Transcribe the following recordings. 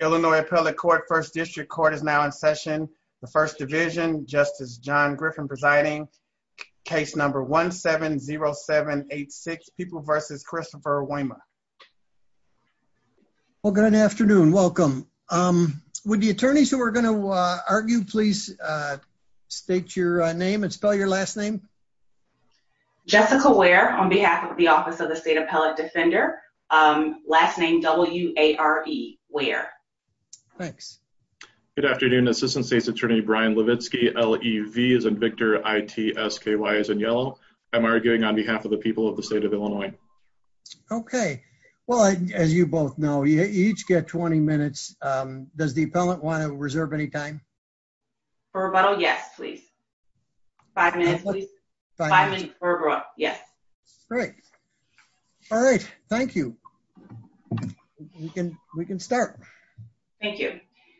Illinois Appellate Court, First District Court is now in session. The First Division, Justice John Griffin presiding. Case number 1-7-0-7-8-6, People v. Christopher Waymer. Well good afternoon, welcome. Would the attorneys who are going to argue please state your name and spell your last name? Jessica Ware on behalf of the Office of the State Appellate Defender. Last name W-A-R-E, Ware. Thanks. Good afternoon, Assistant State's Attorney Brian Levitsky, L-E-V as in Victor, I-T-S-K-Y as in yellow. I'm arguing on behalf of the people of the state of Illinois. Okay, well as you both know you each get 20 minutes. Does the appellant want to reserve any time? For rebuttal, yes please. Five minutes please. Yes. Great. All right, thank you. We can we can start. Thank you.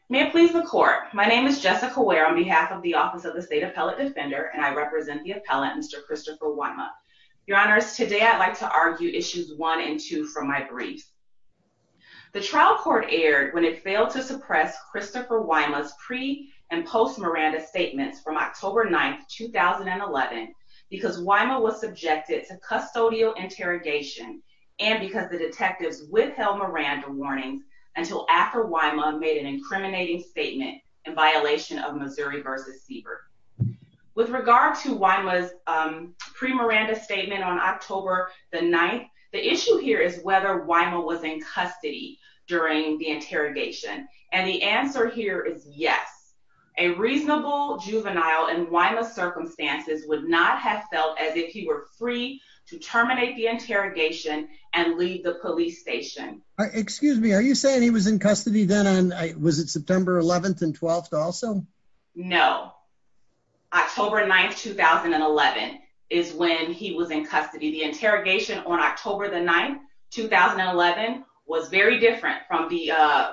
May it please the court, my name is Jessica Ware on behalf of the Office of the State Appellate Defender and I represent the appellant Mr. Christopher Waymer. Your honors, today I'd like to argue issues one and two from my brief. The trial court aired when it failed to suppress Christopher Waymer's pre and post Miranda statements from October 9th, 2011 because Waymer was subjected to custodial interrogation and because the detectives withheld Miranda warnings until after Waymer made an incriminating statement in violation of Missouri v. Siebert. With regard to Waymer's pre-Miranda statement on October the 9th, the issue here is whether Waymer was in custody during the interrogation and the answer here is yes. A reasonable juvenile in Waymer's circumstances would not have felt as if he were free to terminate the interrogation and leave the police station. Excuse me, are you saying he was in custody then on, was it September 11th and 12th also? No. October 9th, 2011 is when he was in custody. The interrogation on October the 9th, 2011 was very different from the on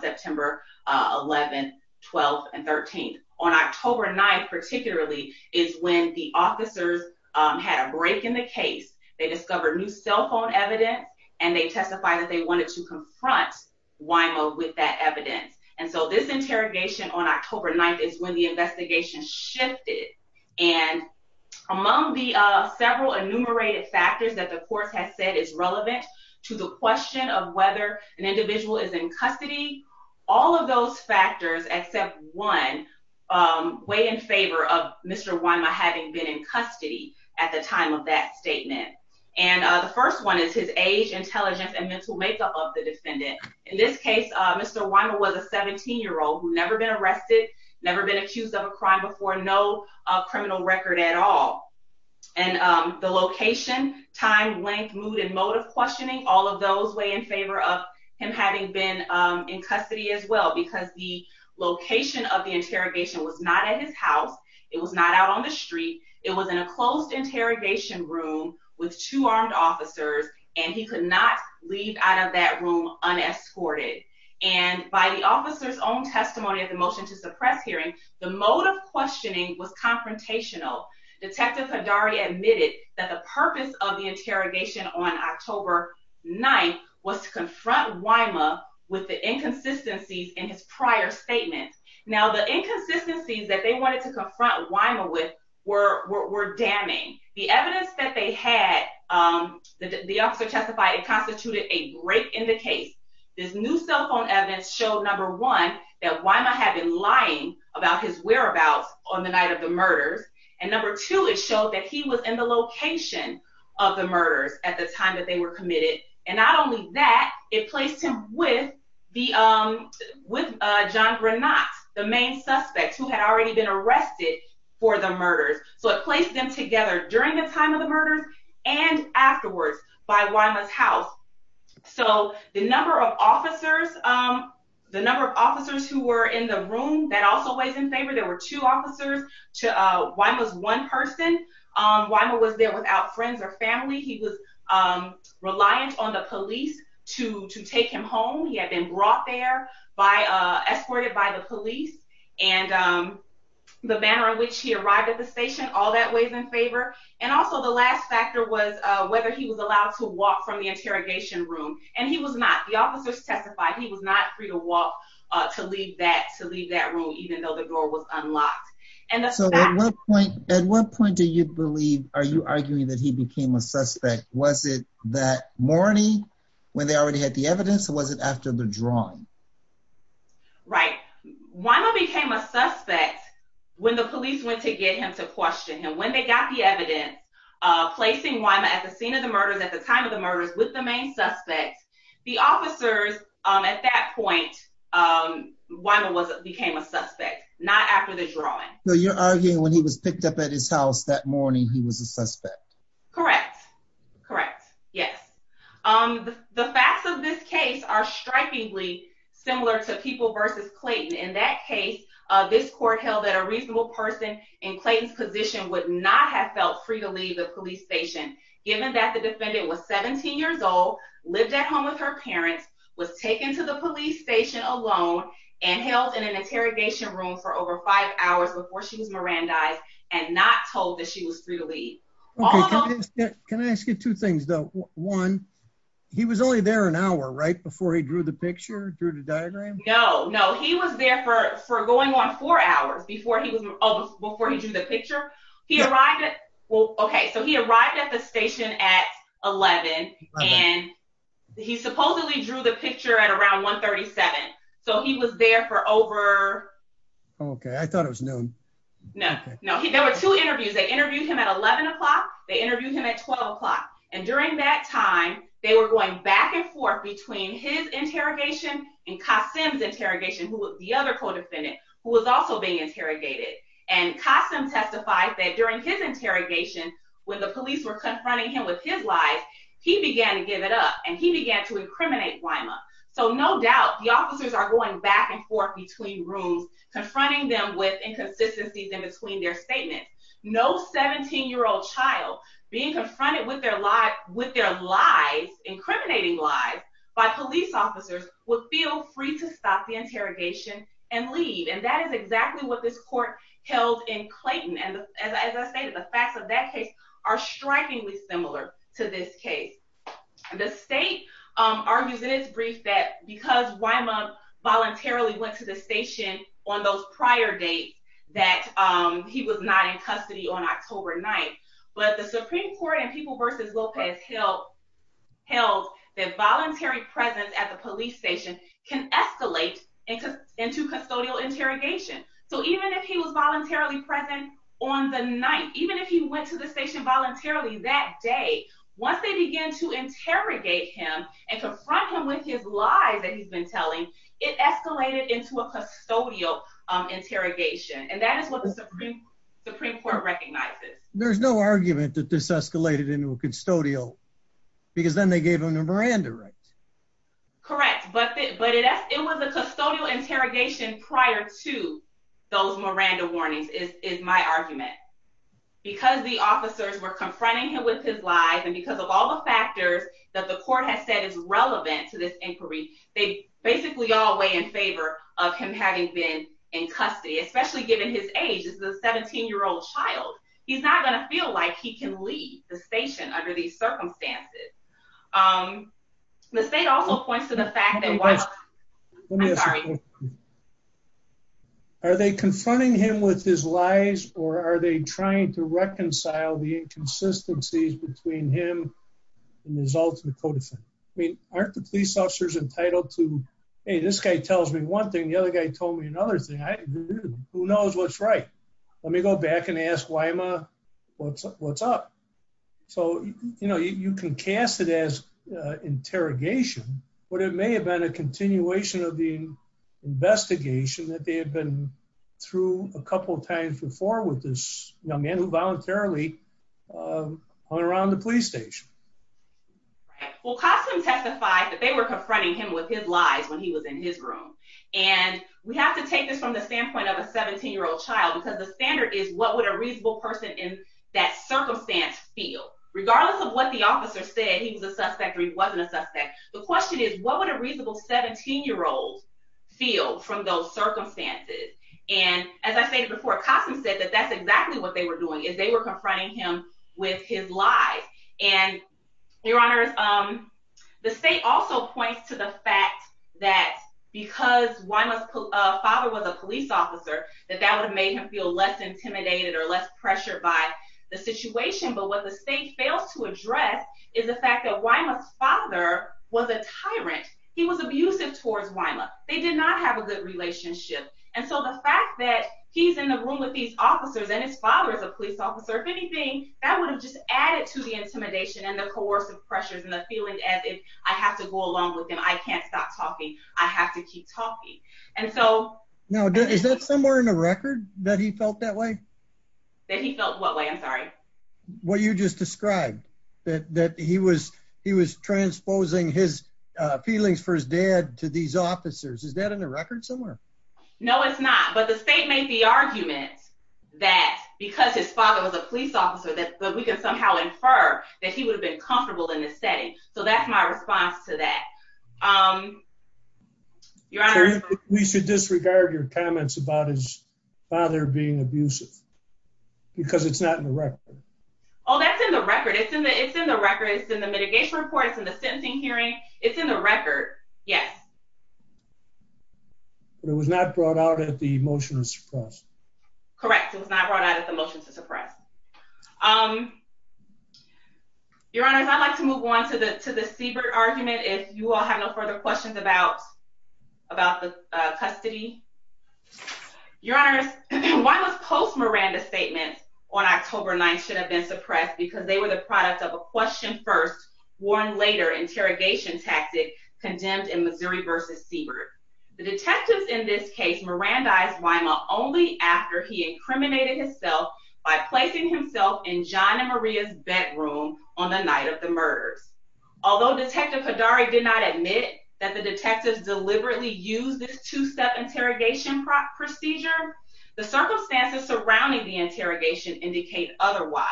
September 11th, 12th, and 13th. On October 9th particularly is when the officers had a break in the case. They discovered new cell phone evidence and they testified that they wanted to confront Waymer with that evidence and so this interrogation on October 9th is when the investigation shifted and among the several enumerated factors that the court has said is relevant to the question of whether an individual is in custody, all of those factors except one weigh in favor of Mr. Waymer having been in custody at the time of that statement and the first one is his age, intelligence, and mental makeup of the defendant. In this case, Mr. Waymer was a 17-year-old who'd never been arrested, never been accused of a crime before, no criminal record at all and the location, time, length, mood, and mode of questioning, all of those weigh in favor of him having been in custody as well because the location of the interrogation was not at his house, it was not out on the street, it was in a closed interrogation room with two armed officers and he could not leave out of that room unescorted and by the officer's own testimony of the motion to suppress hearing, the mode of questioning was confrontational. Detective Haddari admitted that the purpose of the interrogation on October 9th was to confront Waymer with the inconsistencies in his prior statements. Now, the inconsistencies that they wanted to confront Waymer with were damning. The evidence that they had, the officer testified it constituted a break in the case. This new cell phone evidence showed, number one, that Waymer had been lying about his whereabouts on the night of the murders and number two, it showed that he was in the location of the murders at the time that they were committed and not only that, it placed him with John Granat, the main suspect who had already been arrested for the murders. So it placed them together during the time of the murders and afterwards by Waymer's house. So the number of officers, the number of officers who were in the room, that also weighs in favor. There were two officers to Waymer's one person. Waymer was there without friends or family. He was reliant on the police to take him home. He had been brought there by, escorted by the police and the manner in which he arrived at the station, all that weighs in favor and also the last factor was whether he was allowed to walk from the interrogation room and he was not. The officers testified he was not free to walk to leave that, to leave that room even though the door was unlocked. And so at what point, at what point do you believe, are you arguing that he became a suspect? Was it that morning when they already had the evidence or was it after the drawing? Right. Waymer became a suspect when the police went to get him to question him. When they got the evidence, placing Waymer at the scene of the murders at the time of the murders with the main suspects, the officers at that point, Waymer was, became a suspect, not after the drawing. So you're arguing when he was picked up at his house that morning he was a suspect? Correct. Correct. Yes. The facts of this case are strikingly similar to People v. Clayton. In that case, this court held that a reasonable person in Clayton's position would not have felt free to leave the police station given that the defendant was 17 years old, lived at home with her parents, was taken to the police station alone and held in an interrogation room for over five hours before she was Mirandized and not told that she was free to leave. Okay, can I ask you two things though? One, he was only there an hour, right, before he drew the picture, drew the diagram? No, no. He was there for going on four hours before he was, before he drew the picture. He arrived at, well, okay, so he arrived at the station at 11 and he supposedly drew the picture at around 1 37. So he was there for over... Okay, I know there were two interviews. They interviewed him at 11 o'clock, they interviewed him at 12 o'clock, and during that time they were going back and forth between his interrogation and Qasem's interrogation, who was the other co-defendant, who was also being interrogated. And Qasem testified that during his interrogation, when the police were confronting him with his lies, he began to give it up and he began to incriminate Wyma. So no doubt the officers are going back and forth between rooms, confronting them with inconsistencies in their statements. No 17-year-old child being confronted with their lies, incriminating lies, by police officers would feel free to stop the interrogation and leave. And that is exactly what this court held in Clayton. And as I stated, the facts of that case are strikingly similar to this case. The state argues in its brief that because Wyma voluntarily went to the station on those prior dates, that he was not in custody on October 9th. But the Supreme Court in People v. Lopez held that voluntary presence at the police station can escalate into custodial interrogation. So even if he was voluntarily present on the night, even if he went to the station voluntarily that day, once they begin to interrogate him and confront him with his lies that he's been telling, it escalated into a custodial interrogation. And that is what the Supreme Court recognizes. There's no argument that this escalated into a custodial because then they gave him a Miranda right. Correct, but it was a custodial interrogation prior to those Miranda warnings, is my argument. Because the officers were confronting him with his lies and because of all the factors that the court has said is relevant to this inquiry, they basically all weigh in favor of him having been in custody, especially given his age as a 17-year-old child. He's not going to feel like he can leave the station under these circumstances. The state also points to the fact that while, I'm sorry, are they confronting him with his lies or are they trying to I mean, aren't the police officers entitled to, hey, this guy tells me one thing, the other guy told me another thing. Who knows what's right? Let me go back and ask Wyma what's up. So, you know, you can cast it as interrogation, but it may have been a continuation of the investigation that they had been through a couple times before with this man who voluntarily went around the police station. Well, Kossum testified that they were confronting him with his lies when he was in his room. And we have to take this from the standpoint of a 17-year-old child because the standard is what would a reasonable person in that circumstance feel? Regardless of what the officer said, he was a suspect or he wasn't a suspect, the question is what would a reasonable 17-year-old feel from those circumstances? And as I stated before, Kossum said that that's exactly what they were doing, is they were confronting him with his lies. And your honors, the state also points to the fact that because Wyma's father was a police officer, that that would have made him feel less intimidated or less pressured by the situation. But what the state fails to address is the fact that Wyma's father was a tyrant. He was abusive towards Wyma. They did not have a good relationship. And so the fact that he's in the room with these officers and his father is a police officer, if anything, that would have just added to the intimidation and the coercive pressures and the feeling as if I have to go along with him. I can't stop talking. I have to keep talking. Now, is that somewhere in the record that he felt that way? That he felt what way? I'm sorry. What you just described, that he was transposing his feelings for his dad to these officers? No, it's not. But the state made the argument that because his father was a police officer that we can somehow infer that he would have been comfortable in the setting. So that's my response to that. Your honor, we should disregard your comments about his father being abusive because it's not in the record. Oh, that's in the record. It's in the it's in the record. It's in the mitigation report. It's in the sentencing hearing. It's in the record. Yes. But it was not brought out at the motion to suppress. Correct. It was not brought out at the motion to suppress. Your honors, I'd like to move on to the to the Siebert argument if you all have no further questions about the custody. Your honors, why was Post Miranda's statement on October 9th should have been suppressed? Because they were the product of a question first, warn later interrogation tactic condemned in Missouri versus Siebert. The detectives in this case mirandized Weimer only after he incriminated himself by placing himself in John and Maria's bedroom on the night of the murders. Although detective Hadari did not admit that the detectives deliberately used this two-step interrogation procedure, the circumstances surrounding the interrogation indicate otherwise.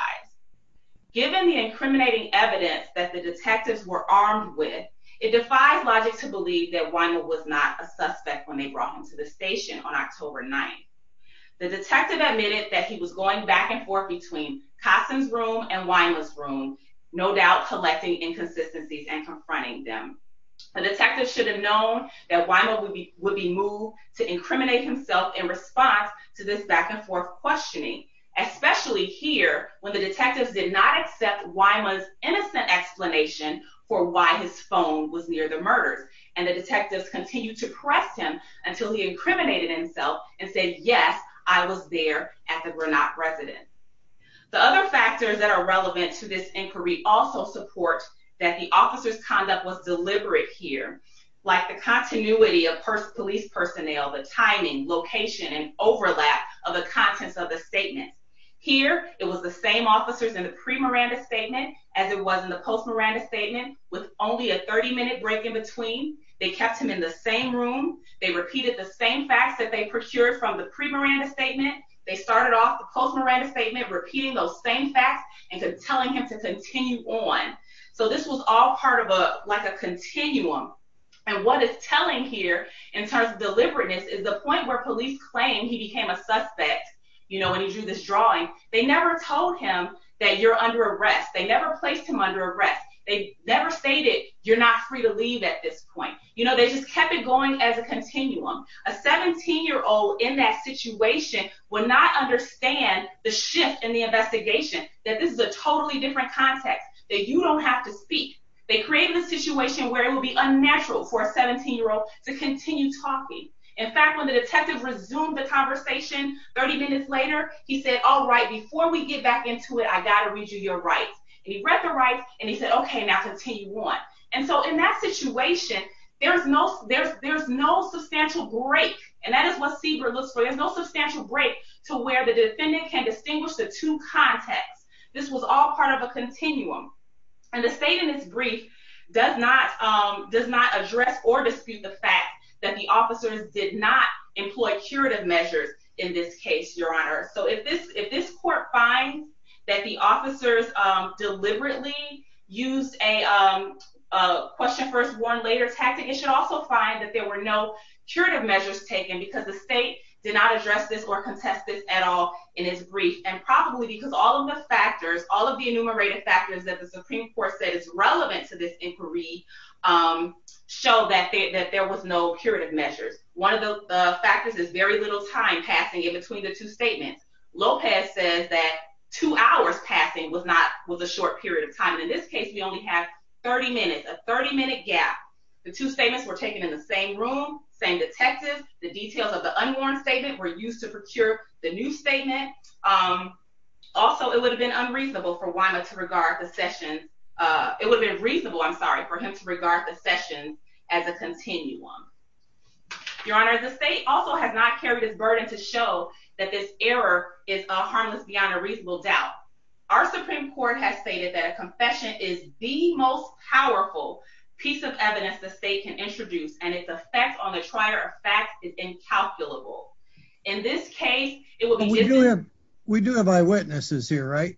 Given the incriminating evidence that the detectives were armed with, it defies logic to believe that Weimer was not a suspect when they brought him to the station on October 9th. The detective admitted that he was going back and forth between Kasson's room and Weimer's room, no doubt collecting inconsistencies and confronting them. The detectives should have known that Weimer would be moved to incriminate himself in response to this back and forth questioning, especially here when the detectives did not accept Weimer's innocent explanation for why his phone was near the murders, and the detectives continued to press him until he incriminated himself and said, yes, I was there at the Granotte residence. The other factors that are relevant to this inquiry also support that the officer's conduct was deliberate here, like the continuity of police personnel, the timing, location, and overlap of the contents of the statement. Here, it was the same officers in the pre-Miranda statement as it was in the post-Miranda statement, with only a 30-minute break in between. They kept him in the same room. They repeated the same facts that they procured from the pre-Miranda statement. They started off the post-Miranda statement repeating those same facts and telling him to continue on. So this was all part of a, like a continuum, and what is telling here in terms of deliberateness is the point where police claim he became a suspect, you know, when he drew this drawing. They never told him that you're under arrest. They never placed him under arrest. They never stated you're not free to leave at this point. You know, they just kept it going as a continuum. A 17-year-old in that situation would not understand the shift in the investigation, that this is a totally different context, that you don't have to speak. They created a situation where it would be unnatural for a 17-year-old to continue talking. In fact, when the detective resumed the back into it, I gotta read you your rights, and he read the rights, and he said, okay, now continue on. And so in that situation, there's no substantial break, and that is what Siebert looks for. There's no substantial break to where the defendant can distinguish the two contexts. This was all part of a continuum, and the state in this brief does not address or dispute the fact that the officers did not employ curative measures in this case, your honor. So if this court finds that the officers deliberately used a question-first-warned-later tactic, it should also find that there were no curative measures taken because the state did not address this or contest this at all in its brief, and probably because all of the factors, all of the enumerated factors that the Supreme Court said is relevant to this inquiry show that there was no curative measures. One of the factors is very little time passing in between the two statements. Lopez says that two hours passing was not, was a short period of time. In this case, we only have 30 minutes, a 30-minute gap. The two statements were taken in the same room, same detective. The details of the unwarned statement were used to procure the new statement. Also, it would have been unreasonable for Wima to regard the session, it would have been reasonable, I'm sorry, for him to regard the session as a continuum. Your honor, the state also has not carried this burden to show that this error is harmless beyond a reasonable doubt. Our Supreme Court has stated that a confession is the most powerful piece of evidence the state can introduce, and its effect on the trial of facts is incalculable. In this case, it would be different. We do have eyewitnesses here, right?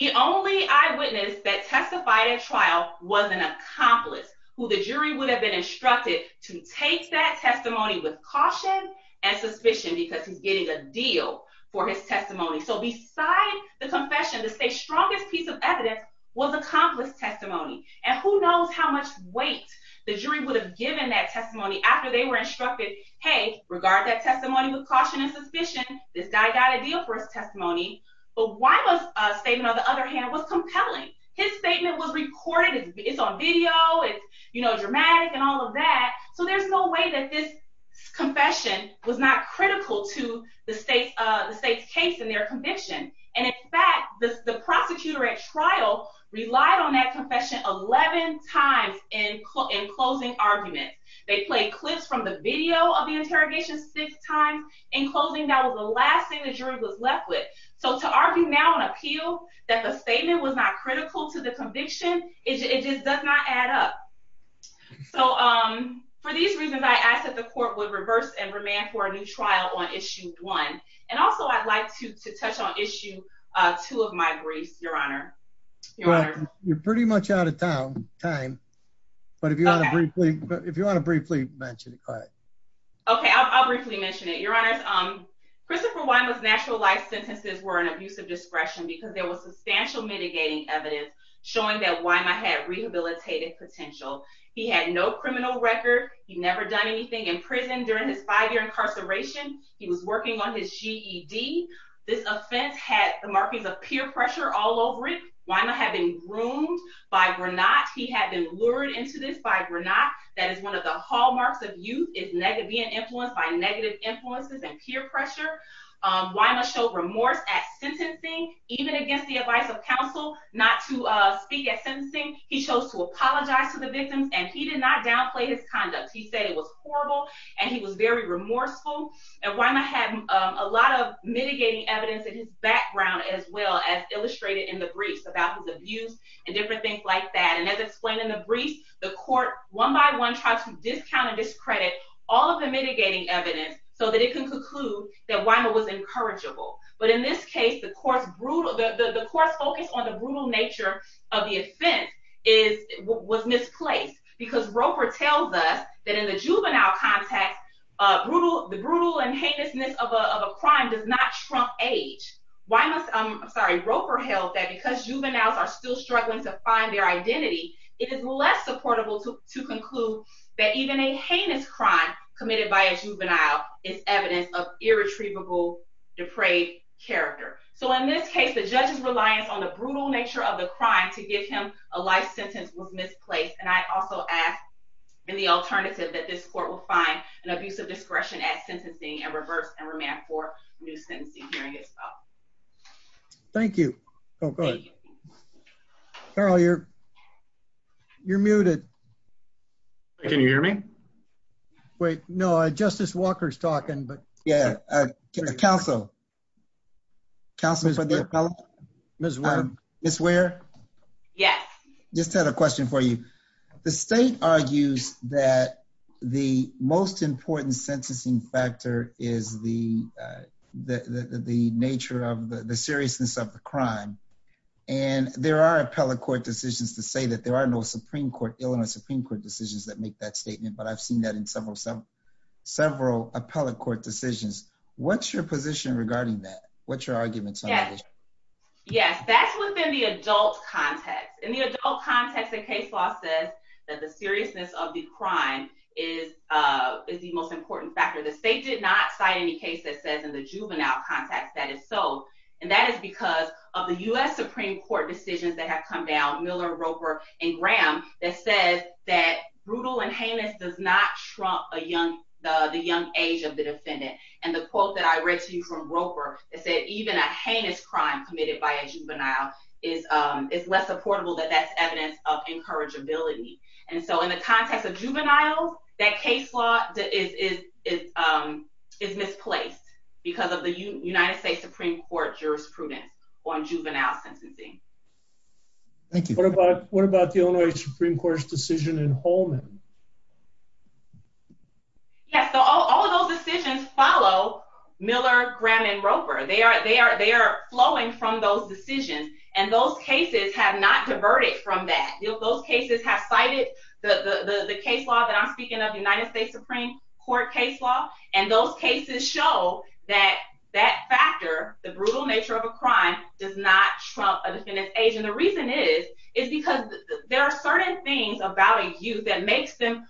The only eyewitness that testified at who the jury would have been instructed to take that testimony with caution and suspicion because he's getting a deal for his testimony. So beside the confession, the state's strongest piece of evidence was accomplished testimony. And who knows how much weight the jury would have given that testimony after they were instructed, hey, regard that testimony with caution and suspicion, this guy got a deal for his testimony. But Wima's statement, on the other hand, was compelling. His statement was recorded, it's on video, it's, you know, dramatic and all of that. So there's no way that this confession was not critical to the state's case and their conviction. And in fact, the prosecutor at trial relied on that confession 11 times in closing arguments. They played clips from the video of the interrogation six times. In closing, that was the last thing the jury was left with. So to argue now on appeal that the statement was not critical to the conviction, it just does not add up. So for these reasons, I ask that the court would reverse and remand for a new trial on issue one. And also I'd like to touch on issue two of my briefs, your honor. You're pretty much out of time, but if you want to briefly mention it, go ahead. Okay, I'll briefly mention it, your honors. Christopher Wima's natural life sentences were an abuse of discretion because there was substantial mitigating evidence showing that Wima had rehabilitative potential. He had no criminal record. He'd never done anything in prison during his five year incarceration. He was working on his GED. This offense had the markings of peer pressure all over it. Wima had been groomed by Granotte. He had been lured into this by Granotte. That is one of the hallmarks of youth, is being influenced by negative influences and peer pressure. Wima showed remorse at sentencing, even against the advice of counsel not to speak at sentencing. He chose to apologize to the victims and he did not downplay his conduct. He said it was horrible and he was very remorseful. And Wima had a lot of mitigating evidence in his background as well as illustrated in the briefs about his abuse and different things like that. And as explained in the briefs, the court one by one tried to discount and discredit all of the mitigating evidence so that it can conclude that Wima was incorrigible. But in this case, the court's focus on the brutal nature of the offense was misplaced because Roper tells us that in the juvenile context, the brutal and heinousness of a crime does not trump age. I'm sorry, Roper held that because juveniles are still struggling to find their identity, it is less supportable to conclude that even a heinous crime committed by a juvenile is evidence of irretrievable depraved character. So in this case, the judge's reliance on the brutal nature of the crime to give him a life sentence was misplaced. And I also ask in the alternative that this court will find an abuse of discretion at sentencing and reverse and remand for new sentencing hearing as well. Thank you. Oh, go ahead. Carol, you're muted. Can you hear me? Wait, no, Justice Walker's talking, but yeah. Counsel, counsel for the appellate? Miss Ware? Yes. Just had a question for you. The state argues that the most important sentencing factor is the nature of the seriousness of the crime, and there are appellate court decisions to say that there are no Supreme Court, Illinois Supreme Court decisions that make that statement, but I've seen that in several appellate court decisions. What's your position regarding that? What's your arguments? Yes, that's within the adult context. In the adult context, the case law says that the seriousness of the crime is the most important factor. The state did not cite any case that says in the juvenile context that is so, and that is because of the U.S. Supreme Court decisions that have come down, Miller, Roper, and Graham, that says that brutal and heinous does not trump the young age of the defendant. And the quote that I read to you from Roper that said even a heinous crime committed by a juvenile is less supportable that that's evidence of encourageability. And so in the context of juveniles, that case law is misplaced because of the United States Supreme Court jurisprudence on juvenile sentencing. Thank you. What about the Illinois Supreme Court's decision in Holman? Yes, so all of those decisions follow Miller, Graham, and Roper. They are flowing from those decisions, and those cases have not diverted from that. Those cases have cited the case law that I'm speaking of, the United States Supreme Court case law, and those cases show that that factor, the brutal nature of a crime, does not trump a defendant's age. And the reason is, is because there are certain things about a youth that makes them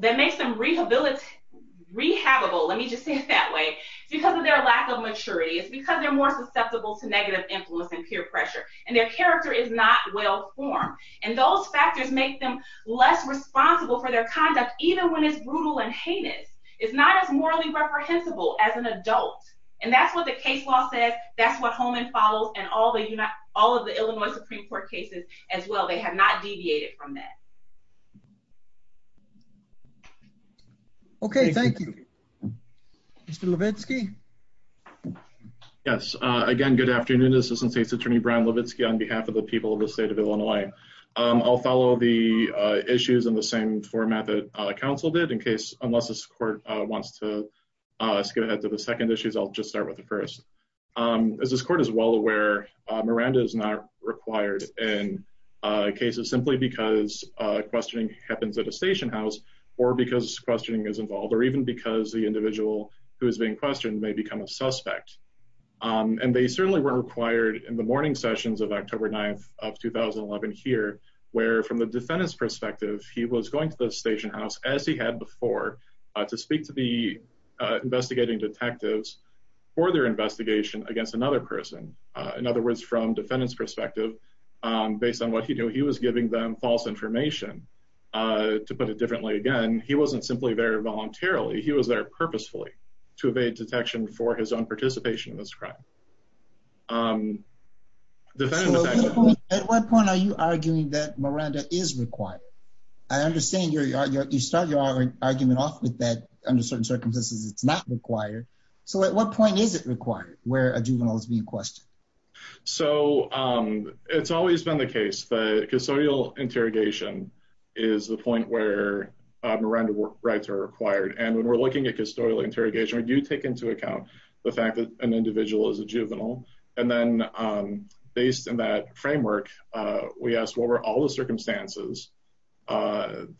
rehabbable. Let me just say it that way. It's because of their lack of maturity. It's because they're more susceptible to negative influence and peer pressure, and their character is not well-formed. And those factors make them less responsible for their conduct, even when it's brutal and heinous. It's not as morally reprehensible as an adult, and that's what the case law says. That's what Holman follows, and all of the Illinois Supreme Court cases as well. They have not deviated from that. Okay, thank you. Mr. Levitsky? Yes, again, good afternoon. Assistant State's Attorney Brian Levitsky on behalf of the people of the state of Illinois. I'll follow the issues in the same format that counsel did, in case, unless this court wants to skip ahead to the second issues, I'll just start with the first. As this court is well aware, Miranda is not required in cases simply because questioning happens at a station house, or because questioning is involved, or even because the individual who is being questioned may become a suspect. And they certainly weren't required in the morning sessions of October 9th of 2011 here, where from the defendant's perspective, he was going to the station house, as he had before, to speak to the investigating detectives for their investigation against another person. In other words, from defendant's perspective, based on what he knew, he was giving them false information. To put it differently, again, he wasn't simply there voluntarily, he was there purposefully, to evade detection for his own participation in this crime. At what point are you arguing that Miranda is required? I understand you start your argument off with that, under certain circumstances, it's not required. So at what point is it required where a juvenile is being questioned? So it's always been the case that custodial interrogation is the point where Miranda rights are required. And when we're looking at custodial interrogation, we do take into account the fact that an individual is a juvenile. And then, based in that framework, we ask what were all the circumstances that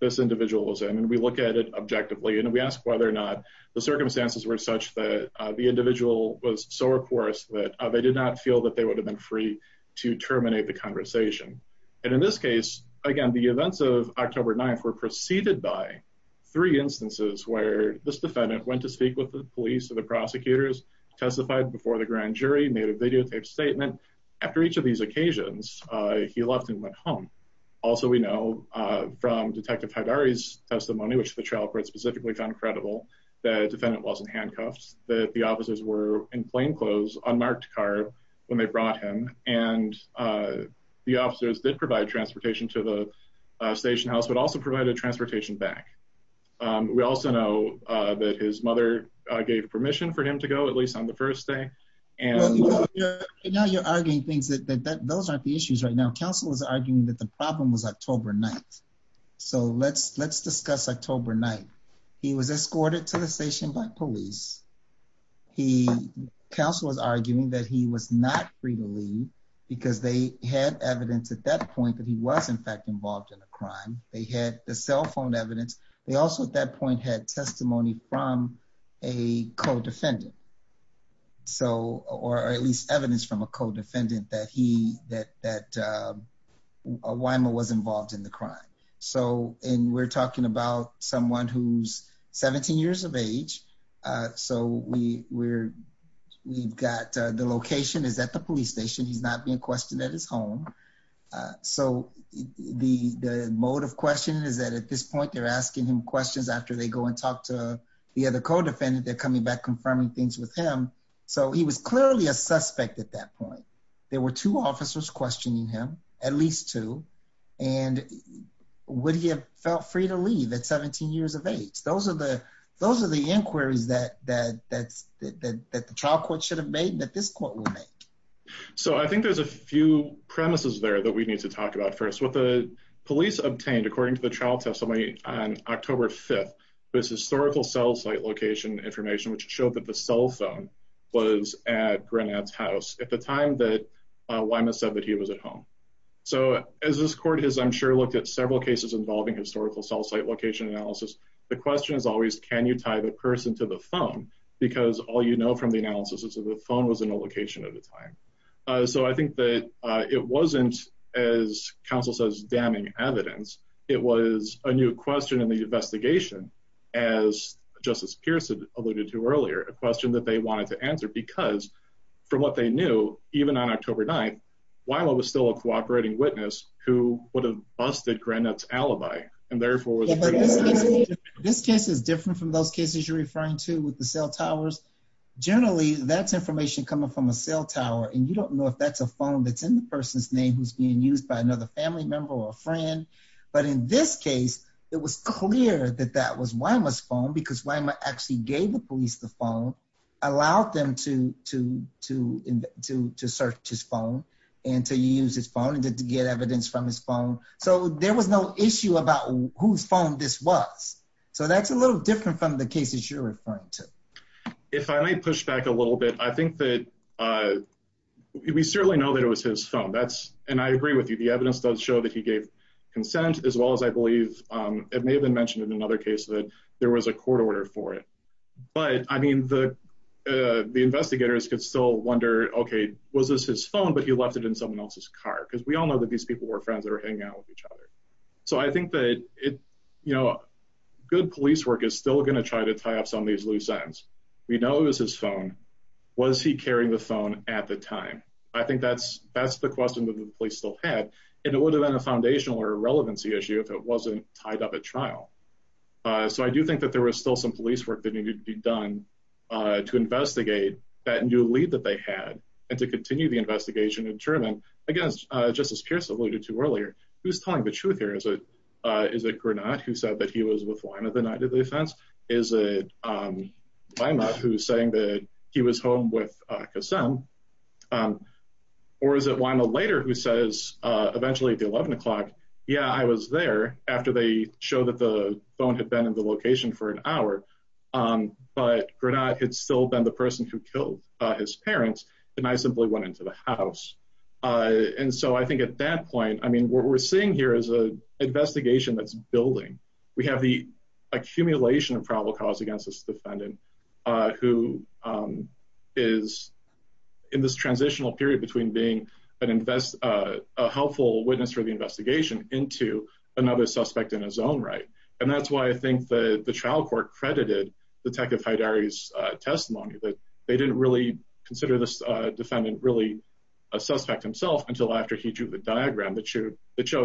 this individual was in. And we look at it objectively, and we ask whether or not the circumstances were such that the individual was so recourse that they did not feel that they would have been free to terminate the conversation. And in this case, again, the events of October 9th were preceded by three instances where this defendant went to speak with the police or the prosecutors, testified before the grand jury, made a videotaped statement. After each of these occasions, he left and went home. Also, we know from Detective Haidari's testimony, which the trial court specifically found credible, that the defendant wasn't handcuffed, that the officers were in plain clothes, unmarked car, when they brought him, and the officers did provide transportation to the station house, but also provided transportation back. We also know that his mother gave permission for him to go, at least on the first day. And now you're arguing things that those aren't the issues right now. Counsel is arguing that the problem was October 9th. So let's discuss October 9th. He was escorted to the station by police. He, counsel was arguing that he was not free to leave because they had evidence at that point that he was in fact involved in a crime. They had the cell phone evidence. They also at that point had testimony from a co-defendant. So, or at least evidence from a co-defendant that he, that Wyma was involved in the crime. So, and we're talking about someone who's 17 years of age. So we, we're, we've got the location is at the police station. He's not being questioned at his home. So the, the mode of question is that at this point, they're asking him questions after they go and talk to the other co-defendant, they're coming back, confirming things with him. So he was clearly a suspect at that point. There were two officers questioning him, at least two. And would he have felt free to leave at 17 years of age? Those are the, those are the inquiries that, that, that's, that, that the trial court should have made and that this court will make. So I think there's a few premises there that we need to talk about first. What the police obtained, according to the trial testimony on October 5th, was historical cell site location information, which showed that the cell phone was at Grenad's house at the time that Wyma said that he was at home. So as this court has, I'm sure, looked at several cases involving historical cell site location analysis. The question is always, can you tie the person to the phone? Because all you know from the analysis is that the phone was in a location at the time. So I think that it wasn't, as counsel says, damning evidence. It was a new question in the investigation, as Justice Pierce alluded to earlier, a question that they wanted to answer because from what they knew, even on October 9th, Wyma was still a suspect at Grenad's alibi. And therefore, this case is different from those cases you're referring to with the cell towers. Generally, that's information coming from a cell tower. And you don't know if that's a phone that's in the person's name who's being used by another family member or friend. But in this case, it was clear that that was Wyma's phone because Wyma actually gave the police the phone, allowed them to, to, to, to, to search his phone and to use his phone and to get evidence from his phone. So there was no issue about whose phone this was. So that's a little different from the cases you're referring to. If I may push back a little bit, I think that we certainly know that it was his phone. That's, and I agree with you, the evidence does show that he gave consent as well as I believe it may have been mentioned in another case that there was a court order for it. But I mean, the, the investigators could still wonder, okay, was this his phone, but he left it in someone else's car? Because we all know that these people were friends that were hanging out with each other. So I think that it, you know, good police work is still going to try to tie up some of these loose ends. We know it was his phone. Was he carrying the phone at the time? I think that's, that's the question that the police still had. And it would have been a foundational or a relevancy issue if it wasn't tied up at trial. So I do think that there was still some police work that needed to be done to investigate that new lead that they had and to continue the investigation and determine, again, just as Pierce alluded to earlier, who's telling the truth here? Is it, is it Granat who said that he was with Wyma the night of the offense? Is it Wyma who's saying that he was home with Kassem? Or is it Wyma later who says eventually at the 11 o'clock, yeah, I was there after they showed that the phone had been in the location for an hour. But Granat had still been the person who killed his parents and I simply went into the house. And so I think at that point, I mean, what we're seeing here is a investigation that's building. We have the accumulation of probable cause against this defendant who is in this transitional period between being an invest, a helpful witness for the investigation into another suspect in his own right. And that's why I think that the trial court credited Detective Haidari's testimony that they didn't really consider this defendant really a suspect himself until after he drew the diagram that showed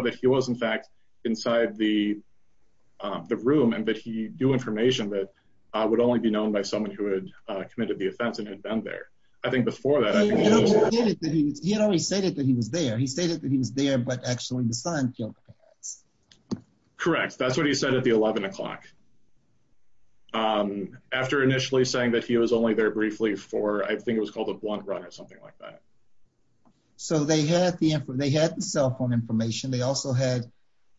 that he was in fact inside the the room and that he knew information that would only be known by someone who had committed the offense and had been there. I think before that, he had already stated that he was there. He stated that he was there but actually the son killed the parents. Correct. That's what he said at the 11 o'clock. After initially saying that he was only there briefly for, I think it was called a blunt run or something like that. So they had the info, they had the cell phone information, they also had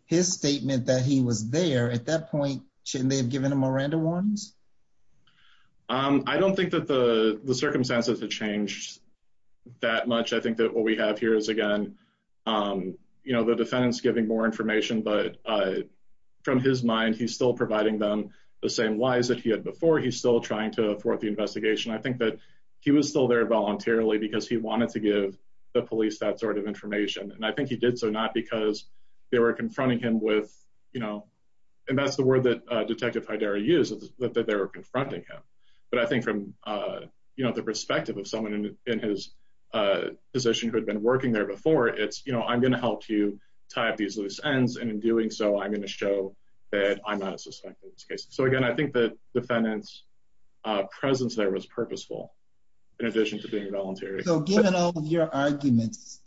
his statement that he was there. At that point, shouldn't they have given him a random warnings? I don't think that the circumstances have changed that much. I think that what we have here is again, you know, the defendant's giving more the same lies that he had before. He's still trying to thwart the investigation. I think that he was still there voluntarily because he wanted to give the police that sort of information and I think he did so not because they were confronting him with, you know, and that's the word that Detective Haidari used, that they were confronting him. But I think from, you know, the perspective of someone in his position who had been working there before, it's, you know, I'm going to help you tie up these loose ends and in doing so I'm going to show that I'm not a suspect in this case. So again, I think the defendant's presence there was purposeful in addition to being voluntary. So given all of your arguments,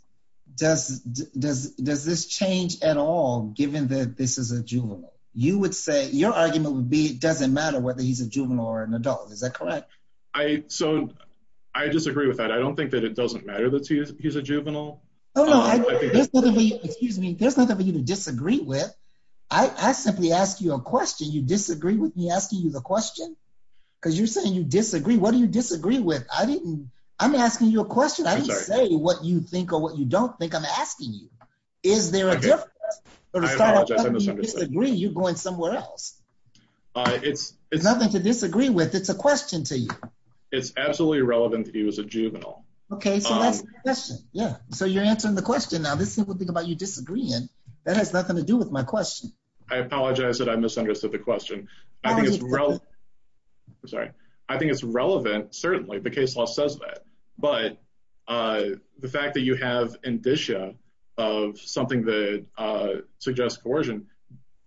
does this change at all given that this is a juvenile? You would say, your argument would be it doesn't matter whether he's a juvenile or an adult, is that correct? So I disagree with that. I don't think that it doesn't matter that he's a juvenile. Oh no, excuse me, there's nothing for you to disagree with. I simply ask you a question, you disagree with me asking you the question? Because you're saying you disagree, what do you disagree with? I didn't, I'm asking you a question, I didn't say what you think or what you don't think I'm asking you. Is there a difference? I apologize, I misunderstood. You disagree, you're going somewhere else. It's nothing to disagree with, it's a question to you. It's absolutely relevant to you as a juvenile. Okay, so that's the question, yeah, so you're answering the question. Now this simple thing about you disagreeing, that has nothing to do with my question. I apologize that I misunderstood the question. I think it's relevant, sorry, I think it's relevant certainly, the case law says that, but the fact that you have indicia of something that suggests coercion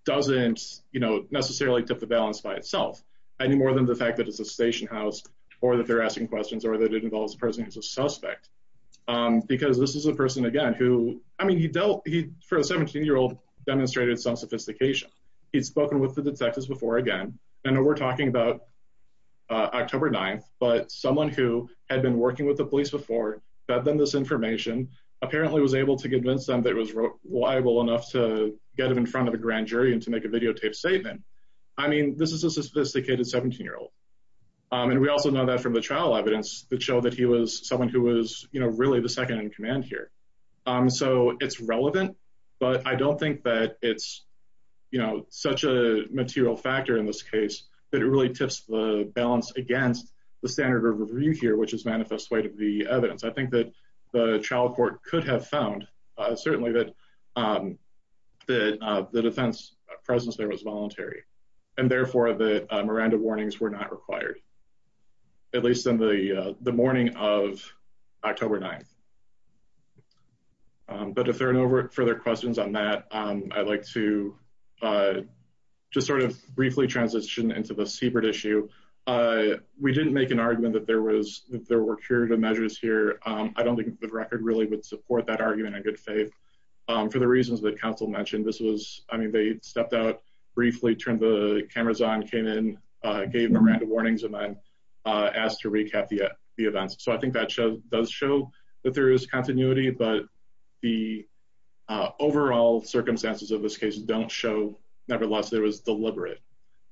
doesn't, you know, necessarily tip the balance by itself, any more than the fact that it's a station house or that they're asking questions or that it involves a person who's a suspect, because this is a person, again, who, I mean, he dealt, he, for a 17-year-old, demonstrated some sophistication. He'd spoken with the detectives before, again, I know we're talking about October 9th, but someone who had been working with the police before, fed them this information, apparently was able to convince them that it was reliable enough to get him in front of a grand jury and to make a videotaped statement, I mean, this is a sophisticated 17-year-old, and we also know that from the trial evidence that showed that he was someone who was, you know, really the second in command here, so it's relevant, but I don't think that it's, you know, such a material factor in this case that it really tips the balance against the standard of review here, which is manifest weight of the evidence. I think that the trial court could have found, certainly, that the defense presence there was voluntary, and therefore the Miranda warnings were not required, at least in the morning of October 9th. But if there are no further questions on that, I'd like to just sort of briefly transition into the Siebert issue. We didn't make an argument that there was, that there were curative measures here. I don't think the record really would support that argument, in good faith, for the reasons that counsel mentioned. This was, I mean, they stepped out briefly, turned the cameras on, came in, gave Miranda warnings, and then asked to recap the events. So I think that shows, does show that there is continuity, but the overall circumstances of this case don't show, nevertheless, there was deliberate,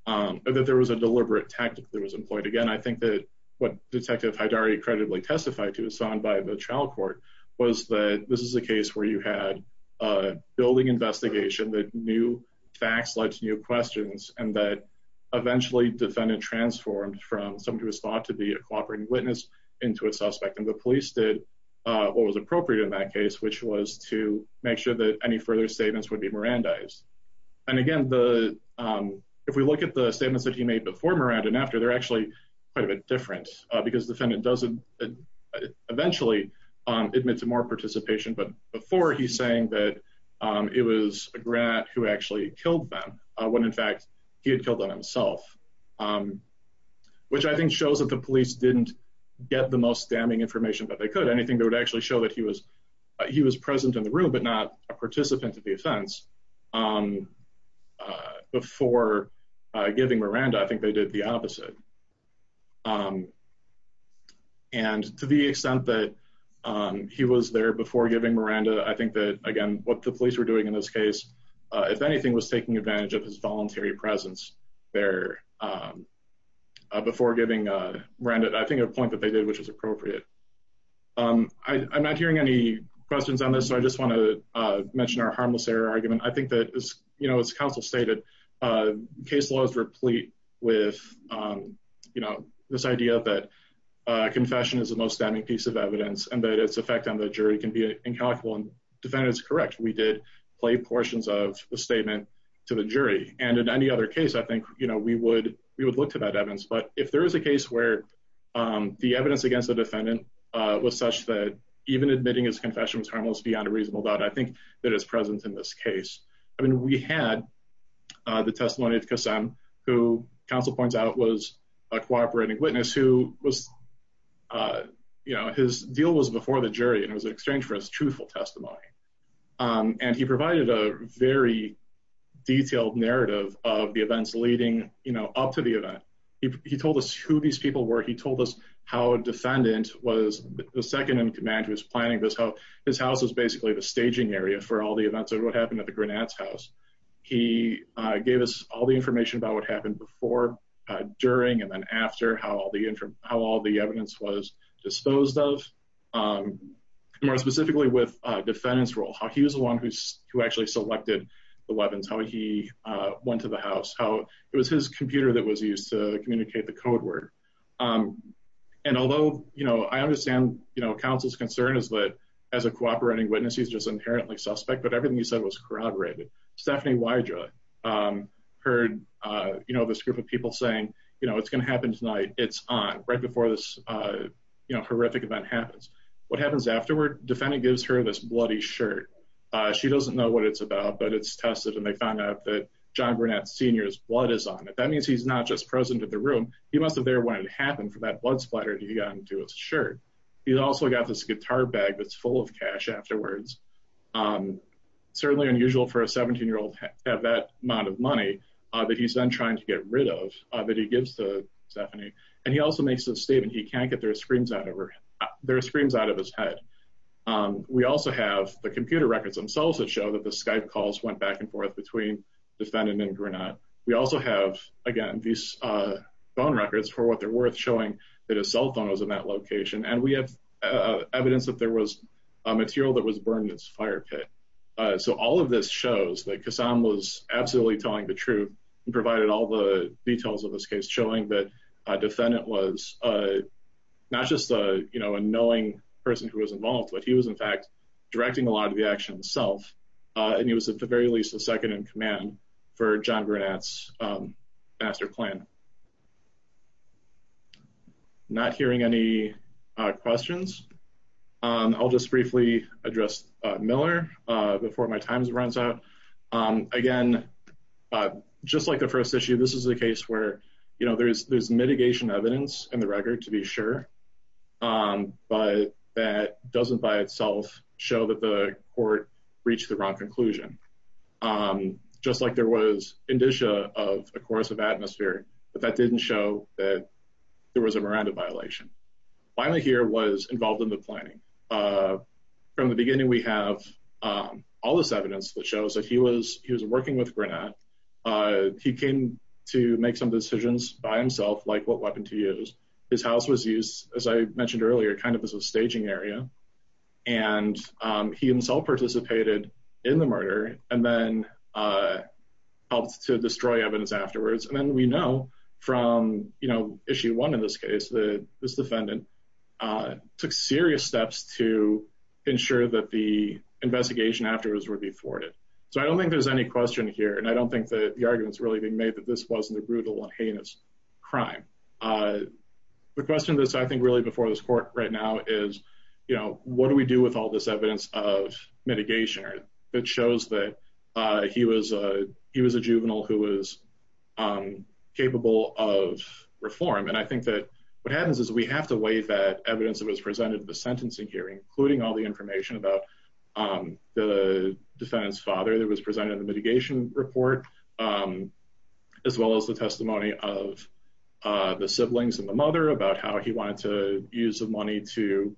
that there was a deliberate tactic that was employed. Again, I think that what Detective Haidari credibly testified to is found by the trial court was that this is a case where you had a building investigation, that new eventually defendant transformed from somebody who was thought to be a cooperating witness into a suspect, and the police did what was appropriate in that case, which was to make sure that any further statements would be Mirandized. And again, the, if we look at the statements that he made before Miranda and after, they're actually quite a bit different, because the defendant doesn't eventually admit to more participation, but before he's saying that it was a grat who actually killed them when, in fact, he had killed them himself, which I think shows that the police didn't get the most damning information that they could. Anything that would actually show that he was, he was present in the room, but not a participant of the offense before giving Miranda, I think they did the opposite. And to the extent that he was there before giving Miranda, I think that, again, what the police were doing in this voluntary presence there before giving Miranda, I think a point that they did which was appropriate. I'm not hearing any questions on this, so I just want to mention our harmless error argument. I think that, as you know, as counsel stated, case laws replete with, you know, this idea that confession is the most damning piece of evidence, and that its effect on the jury can be incalculable, and the defendant is correct. We did play portions of the statement to the jury, and in any other case, I think, you know, we would, we would look to that evidence, but if there is a case where the evidence against the defendant was such that even admitting his confession was harmless beyond a reasonable doubt, I think that it's present in this case. I mean, we had the testimony of Kassem, who counsel points out was a cooperating witness, who was, you know, his deal was before the jury, and it was an exchange for his truthful testimony. And he provided a very detailed narrative of the events leading, you know, up to the event. He told us who these people were, he told us how a defendant was the second in command who was planning this, how his house was basically the staging area for all the events of what happened at the Granats' house. He gave us all the information about what happened before, during, and then after, how all the, how all the evidence was how he was the one who actually selected the weapons, how he went to the house, how it was his computer that was used to communicate the code word. And although, you know, I understand, you know, counsel's concern is that as a cooperating witness, he's just inherently suspect, but everything he said was corroborated. Stephanie Wydra heard, you know, this group of people saying, you know, it's going to happen tonight, it's on, right before this, you know, horrific event happens. What happens afterward, defendant gives her this bloody shirt. She doesn't know what it's about, but it's tested, and they found out that John Granat Sr.'s blood is on it. That means he's not just present at the room. He must have been there when it happened for that blood splatter to get onto his shirt. He's also got this guitar bag that's full of cash afterwards. Certainly unusual for a 17-year-old to have that amount of money that he's then trying to get rid of, that he gives to Stephanie. And he also makes the statement he can't get their screams out of his head. We also have the computer records themselves that show that the Skype calls went back and forth between defendant and Granat. We also have, again, these phone records for what they're worth showing that a cell phone was in that location, and we have evidence that there was a material that was burned in this fire pit. So all of this shows that Kassam was absolutely telling the truth and provided all the details of this case, showing that a defendant was not just a, you know, a knowing person who was involved, but he was in fact directing a lot of the action himself, and he was at the very least a second in command for John Granat's master plan. Not hearing any questions, I'll just briefly address Miller before my time runs out. Again, just like the first issue, this is a case where, you know, there's mitigation evidence in the record to be sure, but that doesn't by itself show that the court reached the wrong conclusion. Just like there was indicia of a course of atmosphere, but that didn't show that there was a Miranda violation. Finally here was involved in the planning. From the beginning, we have all this evidence that shows that he was making some decisions by himself, like what weapon to use. His house was used, as I mentioned earlier, kind of as a staging area, and he himself participated in the murder, and then helped to destroy evidence afterwards. And then we know from, you know, issue one in this case that this defendant took serious steps to ensure that the investigation afterwards would be thwarted. So I don't think there's any question here, and I don't think that the argument's really being made that this wasn't a brutal and heinous crime. The question that's, I think, really before this court right now is, you know, what do we do with all this evidence of mitigation? It shows that he was a juvenile who was capable of reform, and I think that what happens is we have to weigh that evidence that was presented at the sentencing hearing, including all the information about the defendant's father that was presented in the mitigation report, as well as the testimony of the siblings and the mother about how he wanted to use the money to,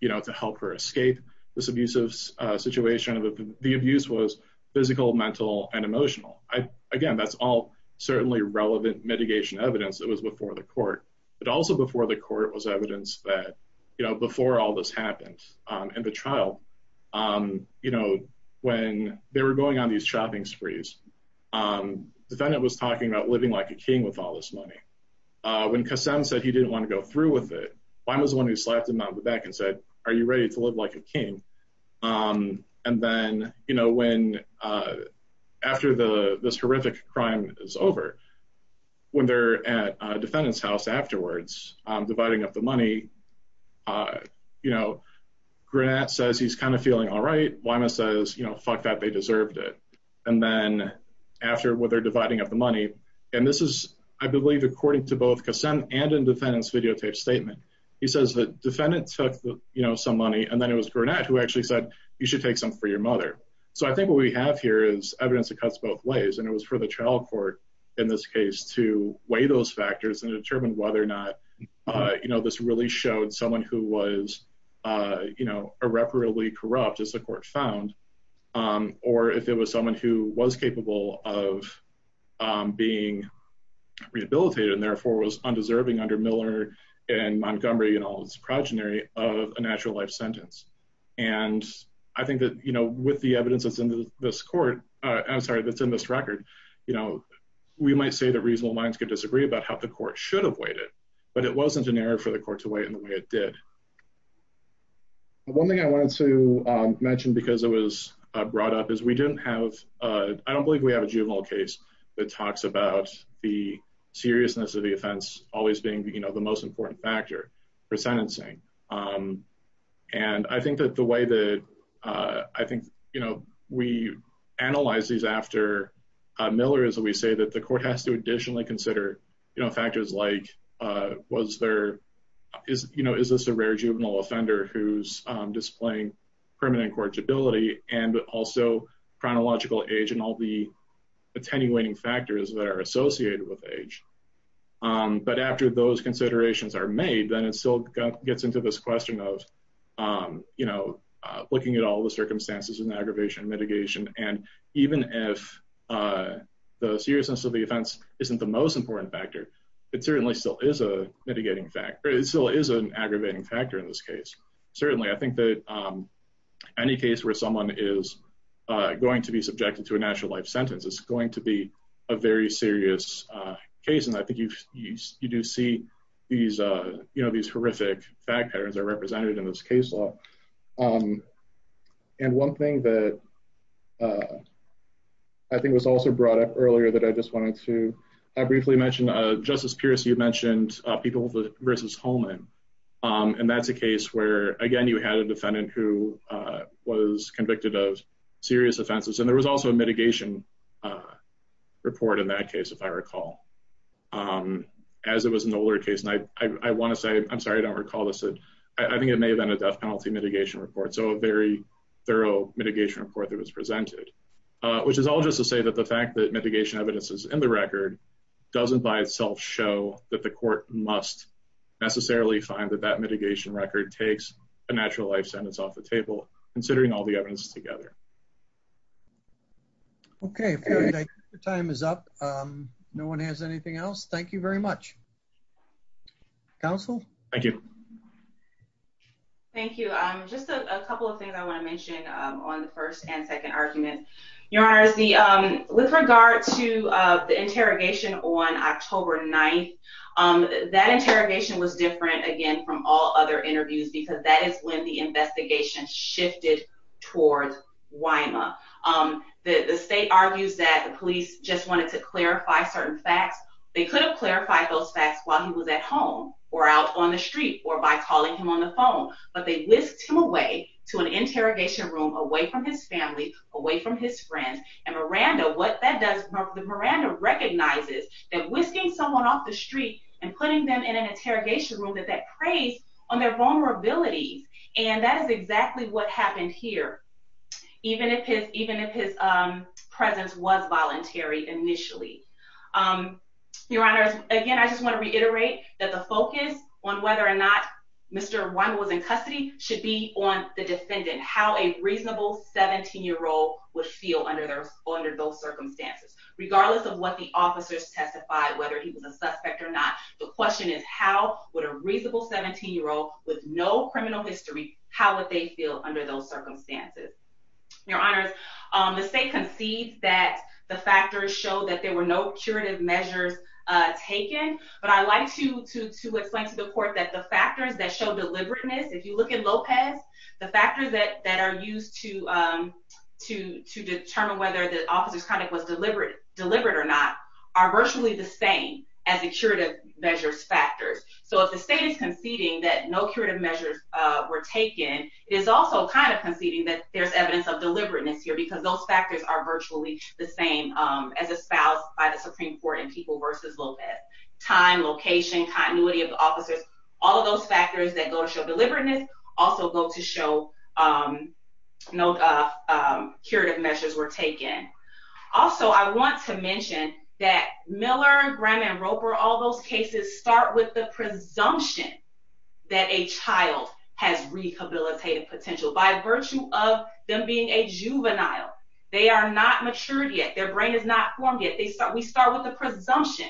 you know, to help her escape this abusive situation. The abuse was physical, mental, and emotional. Again, that's all certainly relevant mitigation evidence that was before the court, but also before the court was evidence that, you know, before all this happened in the trial, you know, when they were going on these shopping sprees, the defendant was talking about living like a king with all this money. When Qasem said he didn't want to go through with it, one was the one who slapped him on the back and said, are you ready to live like a king? And then, you know, when after this horrific crime is over, when they're at a defendant's house afterwards, dividing up the money, you know, Granat says he's kind of feeling all right. Wyma says, you know, fuck that, they deserved it. And then after what they're dividing up the money, and this is, I believe, according to both Qasem and in defendant's videotape statement, he says the defendant took, you know, some money, and then it was Granat who actually said, you should take some for your mother. So I think what we have here is evidence that cuts both ways, and it was for the trial court in this case to weigh those factors and determine whether or not, you know, this really showed someone who was, you know, irreparably corrupt as the court found, or if it was someone who was capable of being rehabilitated and therefore was undeserving under Miller and Montgomery and all his progeny of a natural life sentence. And I think that, you know, with the evidence that's in this court, I'm sorry, that's in this record, you know, we might say that reasonable minds could disagree about how the court should have weighed it, but it wasn't an error for the court to weigh in the way it did. One thing I wanted to mention because it was brought up is we didn't have, I don't believe we have a juvenile case that talks about the seriousness of the offense always being, you know, the most important factor for sentencing. And I think that the way that, I think, you know, we analyze these after Miller is that we say that the court has to additionally consider, you know, factors like was there, is, you know, is this a rare juvenile offender who's displaying permanent cortability and also chronological age and all the attenuating factors that are associated with age. But after those considerations are made, then it still gets into this question of, you know, looking at all the circumstances and isn't the most important factor. It certainly still is a mitigating factor. It still is an aggravating factor in this case. Certainly, I think that any case where someone is going to be subjected to a natural life sentence is going to be a very serious case. And I think you do see these, you know, these horrific fact patterns are represented in this case law. And one thing that I think was also brought up earlier that I just wanted to briefly mention, Justice Pierce, you mentioned people versus Holman. And that's a case where, again, you had a defendant who was convicted of serious offenses. And there was also a mitigation report in that case, if I recall, as it was an older case. And I want to say, I'm sorry I don't recall this, I think it may have been a death penalty mitigation report. So a very thorough mitigation report that was presented. Which is all just to say that the fact that mitigation evidence is in the record doesn't by itself show that the court must necessarily find that that mitigation record takes a natural life sentence off the table, considering all the evidence together. Okay, time is up. No one has anything else. Thank you very much. Counsel? Thank you. Thank you. Just a couple of things I want to Your Honor, with regard to the interrogation on October 9th, that interrogation was different, again, from all other interviews, because that is when the investigation shifted towards Wyma. The state argues that the police just wanted to clarify certain facts. They could have clarified those facts while he was at home, or out on the street, or by calling him on the phone. But they whisked him away to an interrogation room away from his family, away from his friends. And Miranda, what that does, Miranda recognizes that whisking someone off the street and putting them in an interrogation room, that that preys on their vulnerabilities. And that is exactly what happened here. Even if his presence was voluntary, initially. Your Honor, again, I just want to reiterate that the focus on whether or not Mr. Wyma was in custody should be on the defendant, how a reasonable 17-year-old would feel under those circumstances. Regardless of what the officers testified, whether he was a suspect or not, the question is how would a reasonable 17-year-old with no criminal history, how would they feel under those circumstances? Your Honors, the state concedes that the factors show that there were no curative measures taken. But I like to explain to the Court that the factors that show deliberateness, if you look at Lopez, the factors that are used to determine whether the officer's conduct was deliberate or not are virtually the same as the curative measures factors. So if the state is conceding that no curative measures were taken, it is also kind of conceding that there's evidence of deliberateness here because those factors are virtually the same as espoused by the Supreme Court in People v. Lopez. Time, location, continuity of the facts, those factors that go to show deliberateness also go to show no curative measures were taken. Also, I want to mention that Miller, Graham, and Roper, all those cases, start with the presumption that a child has rehabilitative potential by virtue of them being a juvenile. They are not matured yet, their brain is not formed yet. We start with the presumption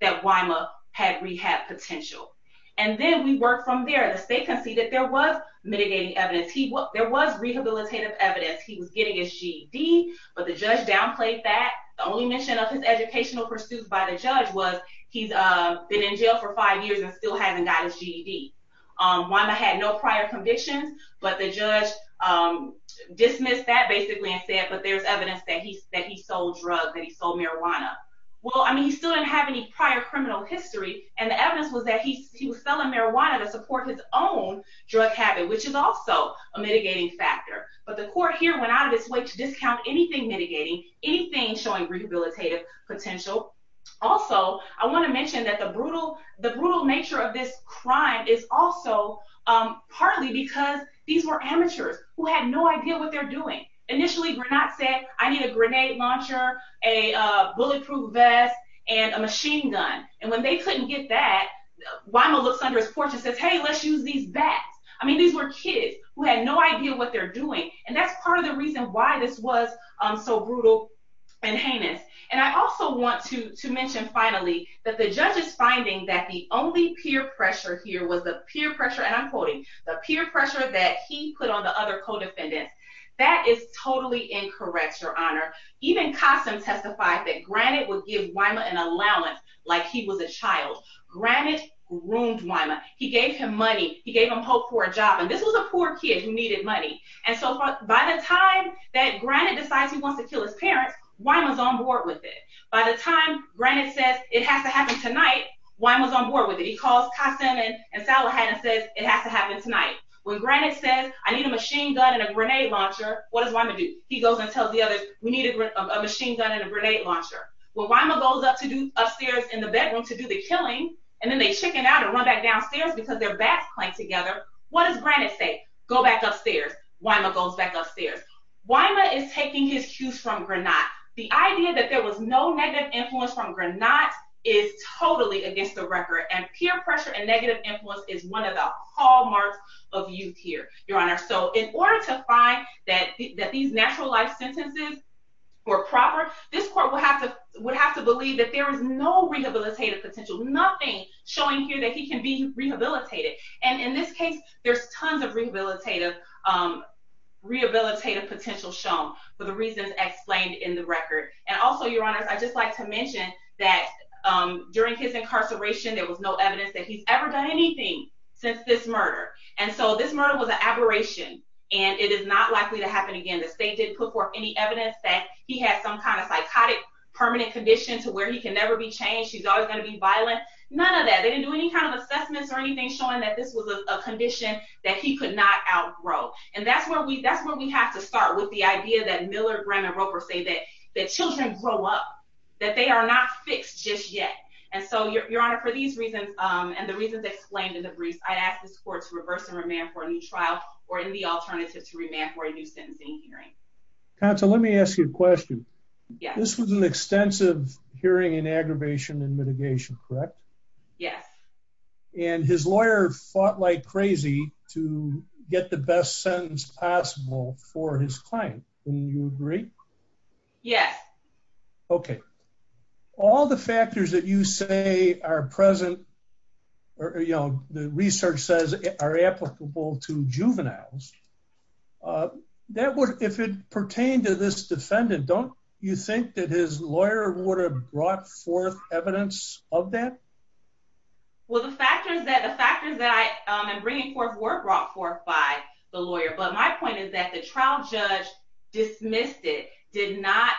that Wyma had rehab potential. And then we work from there. The state conceded that there was mitigating evidence. There was rehabilitative evidence. He was getting his GED, but the judge downplayed that. The only mention of his educational pursuits by the judge was he's been in jail for five years and still hasn't got his GED. Wyma had no prior convictions, but the judge dismissed that basically and said, but there's evidence that he sold drugs, that he sold marijuana. Well, I mean, he still didn't have any prior criminal history, and the evidence was that he was selling marijuana to support his own drug habit, which is also a mitigating factor. But the court here went out of its way to discount anything mitigating, anything showing rehabilitative potential. Also, I want to mention that the brutal nature of this crime is also partly because these were amateurs who had no idea what they're doing. Initially, Granat said, I need a grenade launcher, a bulletproof vest, and a machine gun. And when they couldn't get that, Wyma looks under his porch and says, hey, let's use these bats. I mean, these were kids who had no idea what they're doing, and that's part of the reason why this was so brutal and heinous. And I also want to to mention, finally, that the judge is finding that the only peer pressure here was the peer pressure, and I'm quoting, the peer pressure that he put on the other co-defendants. That is totally incorrect, Your Honor. Even Kossum testified that Granat would give Wyma an allowance like he was a child. Granat groomed Wyma. He gave him money. He gave him hope for a job, and this was a poor kid who needed money. And so by the time that Granat decides he wants to kill his parents, Wyma's on board with it. By the time Granat says, it has to happen tonight, Wyma's on board with it. He calls Kossum and Salahat and says, it has to happen tonight. When Granat says, I need a machine gun and a grenade launcher, what does Wyma do? He goes and tells the others, we need a machine gun and a grenade launcher. When Wyma goes upstairs in the bedroom to do the killing, and then they chicken out and run back downstairs because their backs clank together, what does Granat say? Go back upstairs. Wyma goes back upstairs. Wyma is taking his cues from Granat. The idea that there was no negative influence from Granat is totally against the record, and peer pressure and negative influence is one of the hallmarks of youth here, Your Honor. So in order to find that these natural life sentences were proper, this court would have to believe that there is no rehabilitative potential, nothing showing here that he can be rehabilitated. And in this case, there's tons of rehabilitative potential shown for the reasons explained in the record. And also, Your Honor, I'd just like to mention that during his incarceration, there was no evidence that he's ever done anything since this murder. And so this murder was an aberration, and it is not likely to happen again. The state did put forth any evidence that he had some kind of psychotic permanent condition to where he can never be changed. He's always going to be violent. None of that. They didn't do any kind of assessments or anything showing that this was a condition that he could not outgrow. And that's where we have to start with the idea that Miller, Graham, and Roper say that that children grow up, that they are not fixed just yet. And so, Your Honor, for these reasons and the reasons explained in the briefs, I'd ask this court to reverse and remand for a new trial or any alternative to remand for a new sentencing hearing. Counsel, let me ask you a question. This was an extensive hearing in aggravation and mitigation, correct? Yes. And his lawyer fought like crazy to get the best sentence possible for his client. Wouldn't you agree? Yes. Okay. All the factors that you say are present, you know, the research says are applicable to juveniles. If it pertained to this defendant, don't you think that his lawyer would have brought forth evidence of that? Well, the factors that I'm bringing forth were brought forth by the lawyer. But my point is that the trial judge dismissed it, did not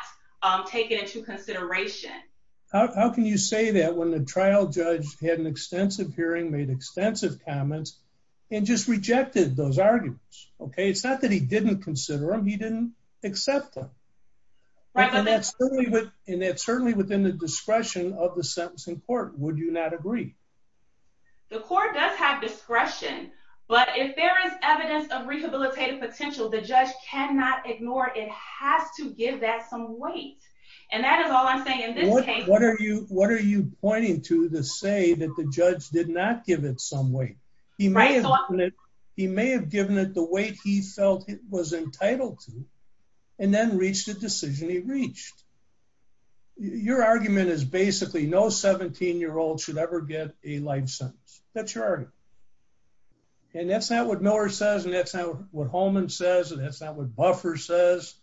take it into consideration. How can you say that when the trial judge had an extensive hearing, made extensive comments, and just rejected those arguments, okay? It's not that he didn't consider them, he didn't accept them. And that's certainly within the discretion of the sentencing court, would you not agree? The court does have discretion, but if there is evidence of rehabilitative potential, the judge cannot ignore it, has to give that some weight. And that is all I'm saying in this case. What are you pointing to to say that the judge did not give it some weight? He may have given it the weight he felt it was entitled to, and then reached a decision he reached. Your argument is basically no 17 year old should ever get a life sentence. That's your argument. And that's not what Miller says, and that's not what Holman says, and that's not what Buffer says.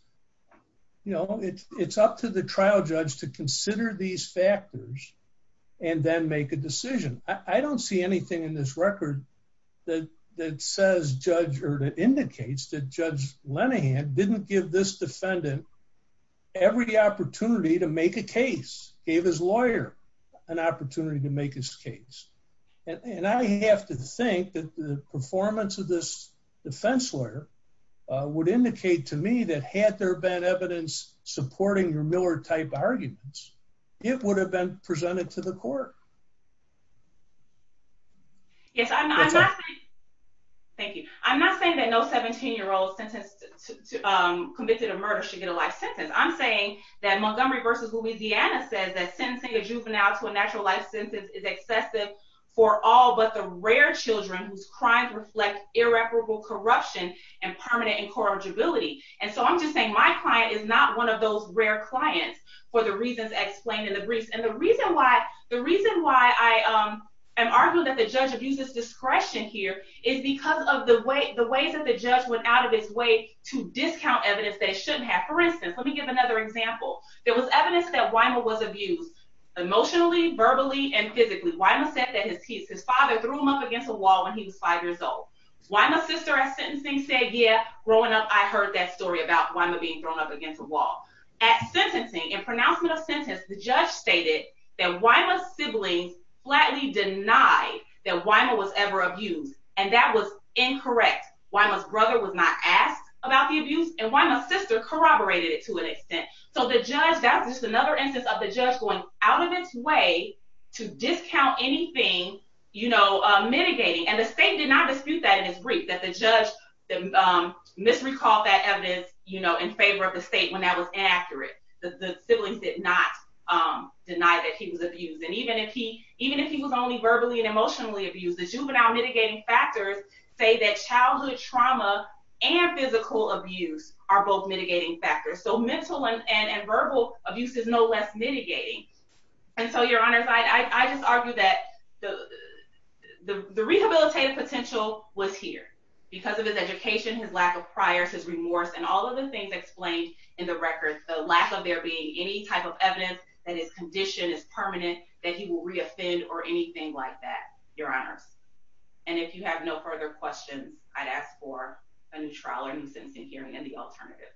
You know, it's up to the trial judge to consider these factors and then make a decision. I don't see anything in this record that says judge or that indicates that Judge Lenihan didn't give this defendant every opportunity to make a case, gave his lawyer an opportunity to make his case. And I have to think that the performance of this defense lawyer would indicate to me that had there been evidence supporting your Miller type arguments, it would have been presented to the court. Yes, thank you. I'm not saying that no 17 year old convicted of murder should get a life sentence. I'm saying that Montgomery versus Louisiana says that sentencing a juvenile to a natural life sentence is excessive for all but the rare children whose crimes reflect irreparable corruption and permanent incorrigibility. And so I'm just saying my client is not one of those rare clients for the reasons explained in the briefs. And the reason why the reason why I am arguing that the judge abuses discretion here is because of the way the ways that the judge went out of his way to discount evidence they shouldn't have. For instance, let me give another example. There was evidence that Wyma was abused emotionally, verbally, and physically. Wyma said that his father threw him up against a wall when he was five years old. Wyma's sister at sentencing said, yeah, growing up I heard that story about Wyma being thrown up against a wall. At sentencing, in pronouncement of sentence, the judge stated that Wyma's siblings flatly denied that Wyma was ever abused and that was incorrect. Wyma's brother was not asked about the abuse and Wyma's sister corroborated it to an extent. So the judge, that's just another instance of the judge going out of its way to discount anything, you know, mitigating. And the state did not dispute that in its brief that the judge misrecalled that evidence, you know, in favor of the state when that was inaccurate. The siblings did not deny that he was abused. And even if he was only verbally and emotionally abused, the juvenile mitigating factors say that childhood trauma and physical abuse are both mitigating factors. So mental and verbal abuse is no less mitigating. And so, your honors, I just argue that the rehabilitative potential was here because of his education, his lack of priors, his remorse, and all of the things explained in the record. The lack of there being any type of evidence that his condition is permanent, that he will reoffend or anything like that, your honors. And if you have no further questions, I'd ask for a new trial or new sentencing hearing and the alternative.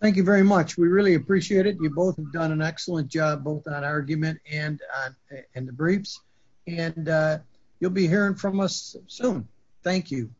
Thank you very much. We really appreciate it. You both have done an excellent job both on argument and in the briefs. And you'll be hearing from us soon. Thank you.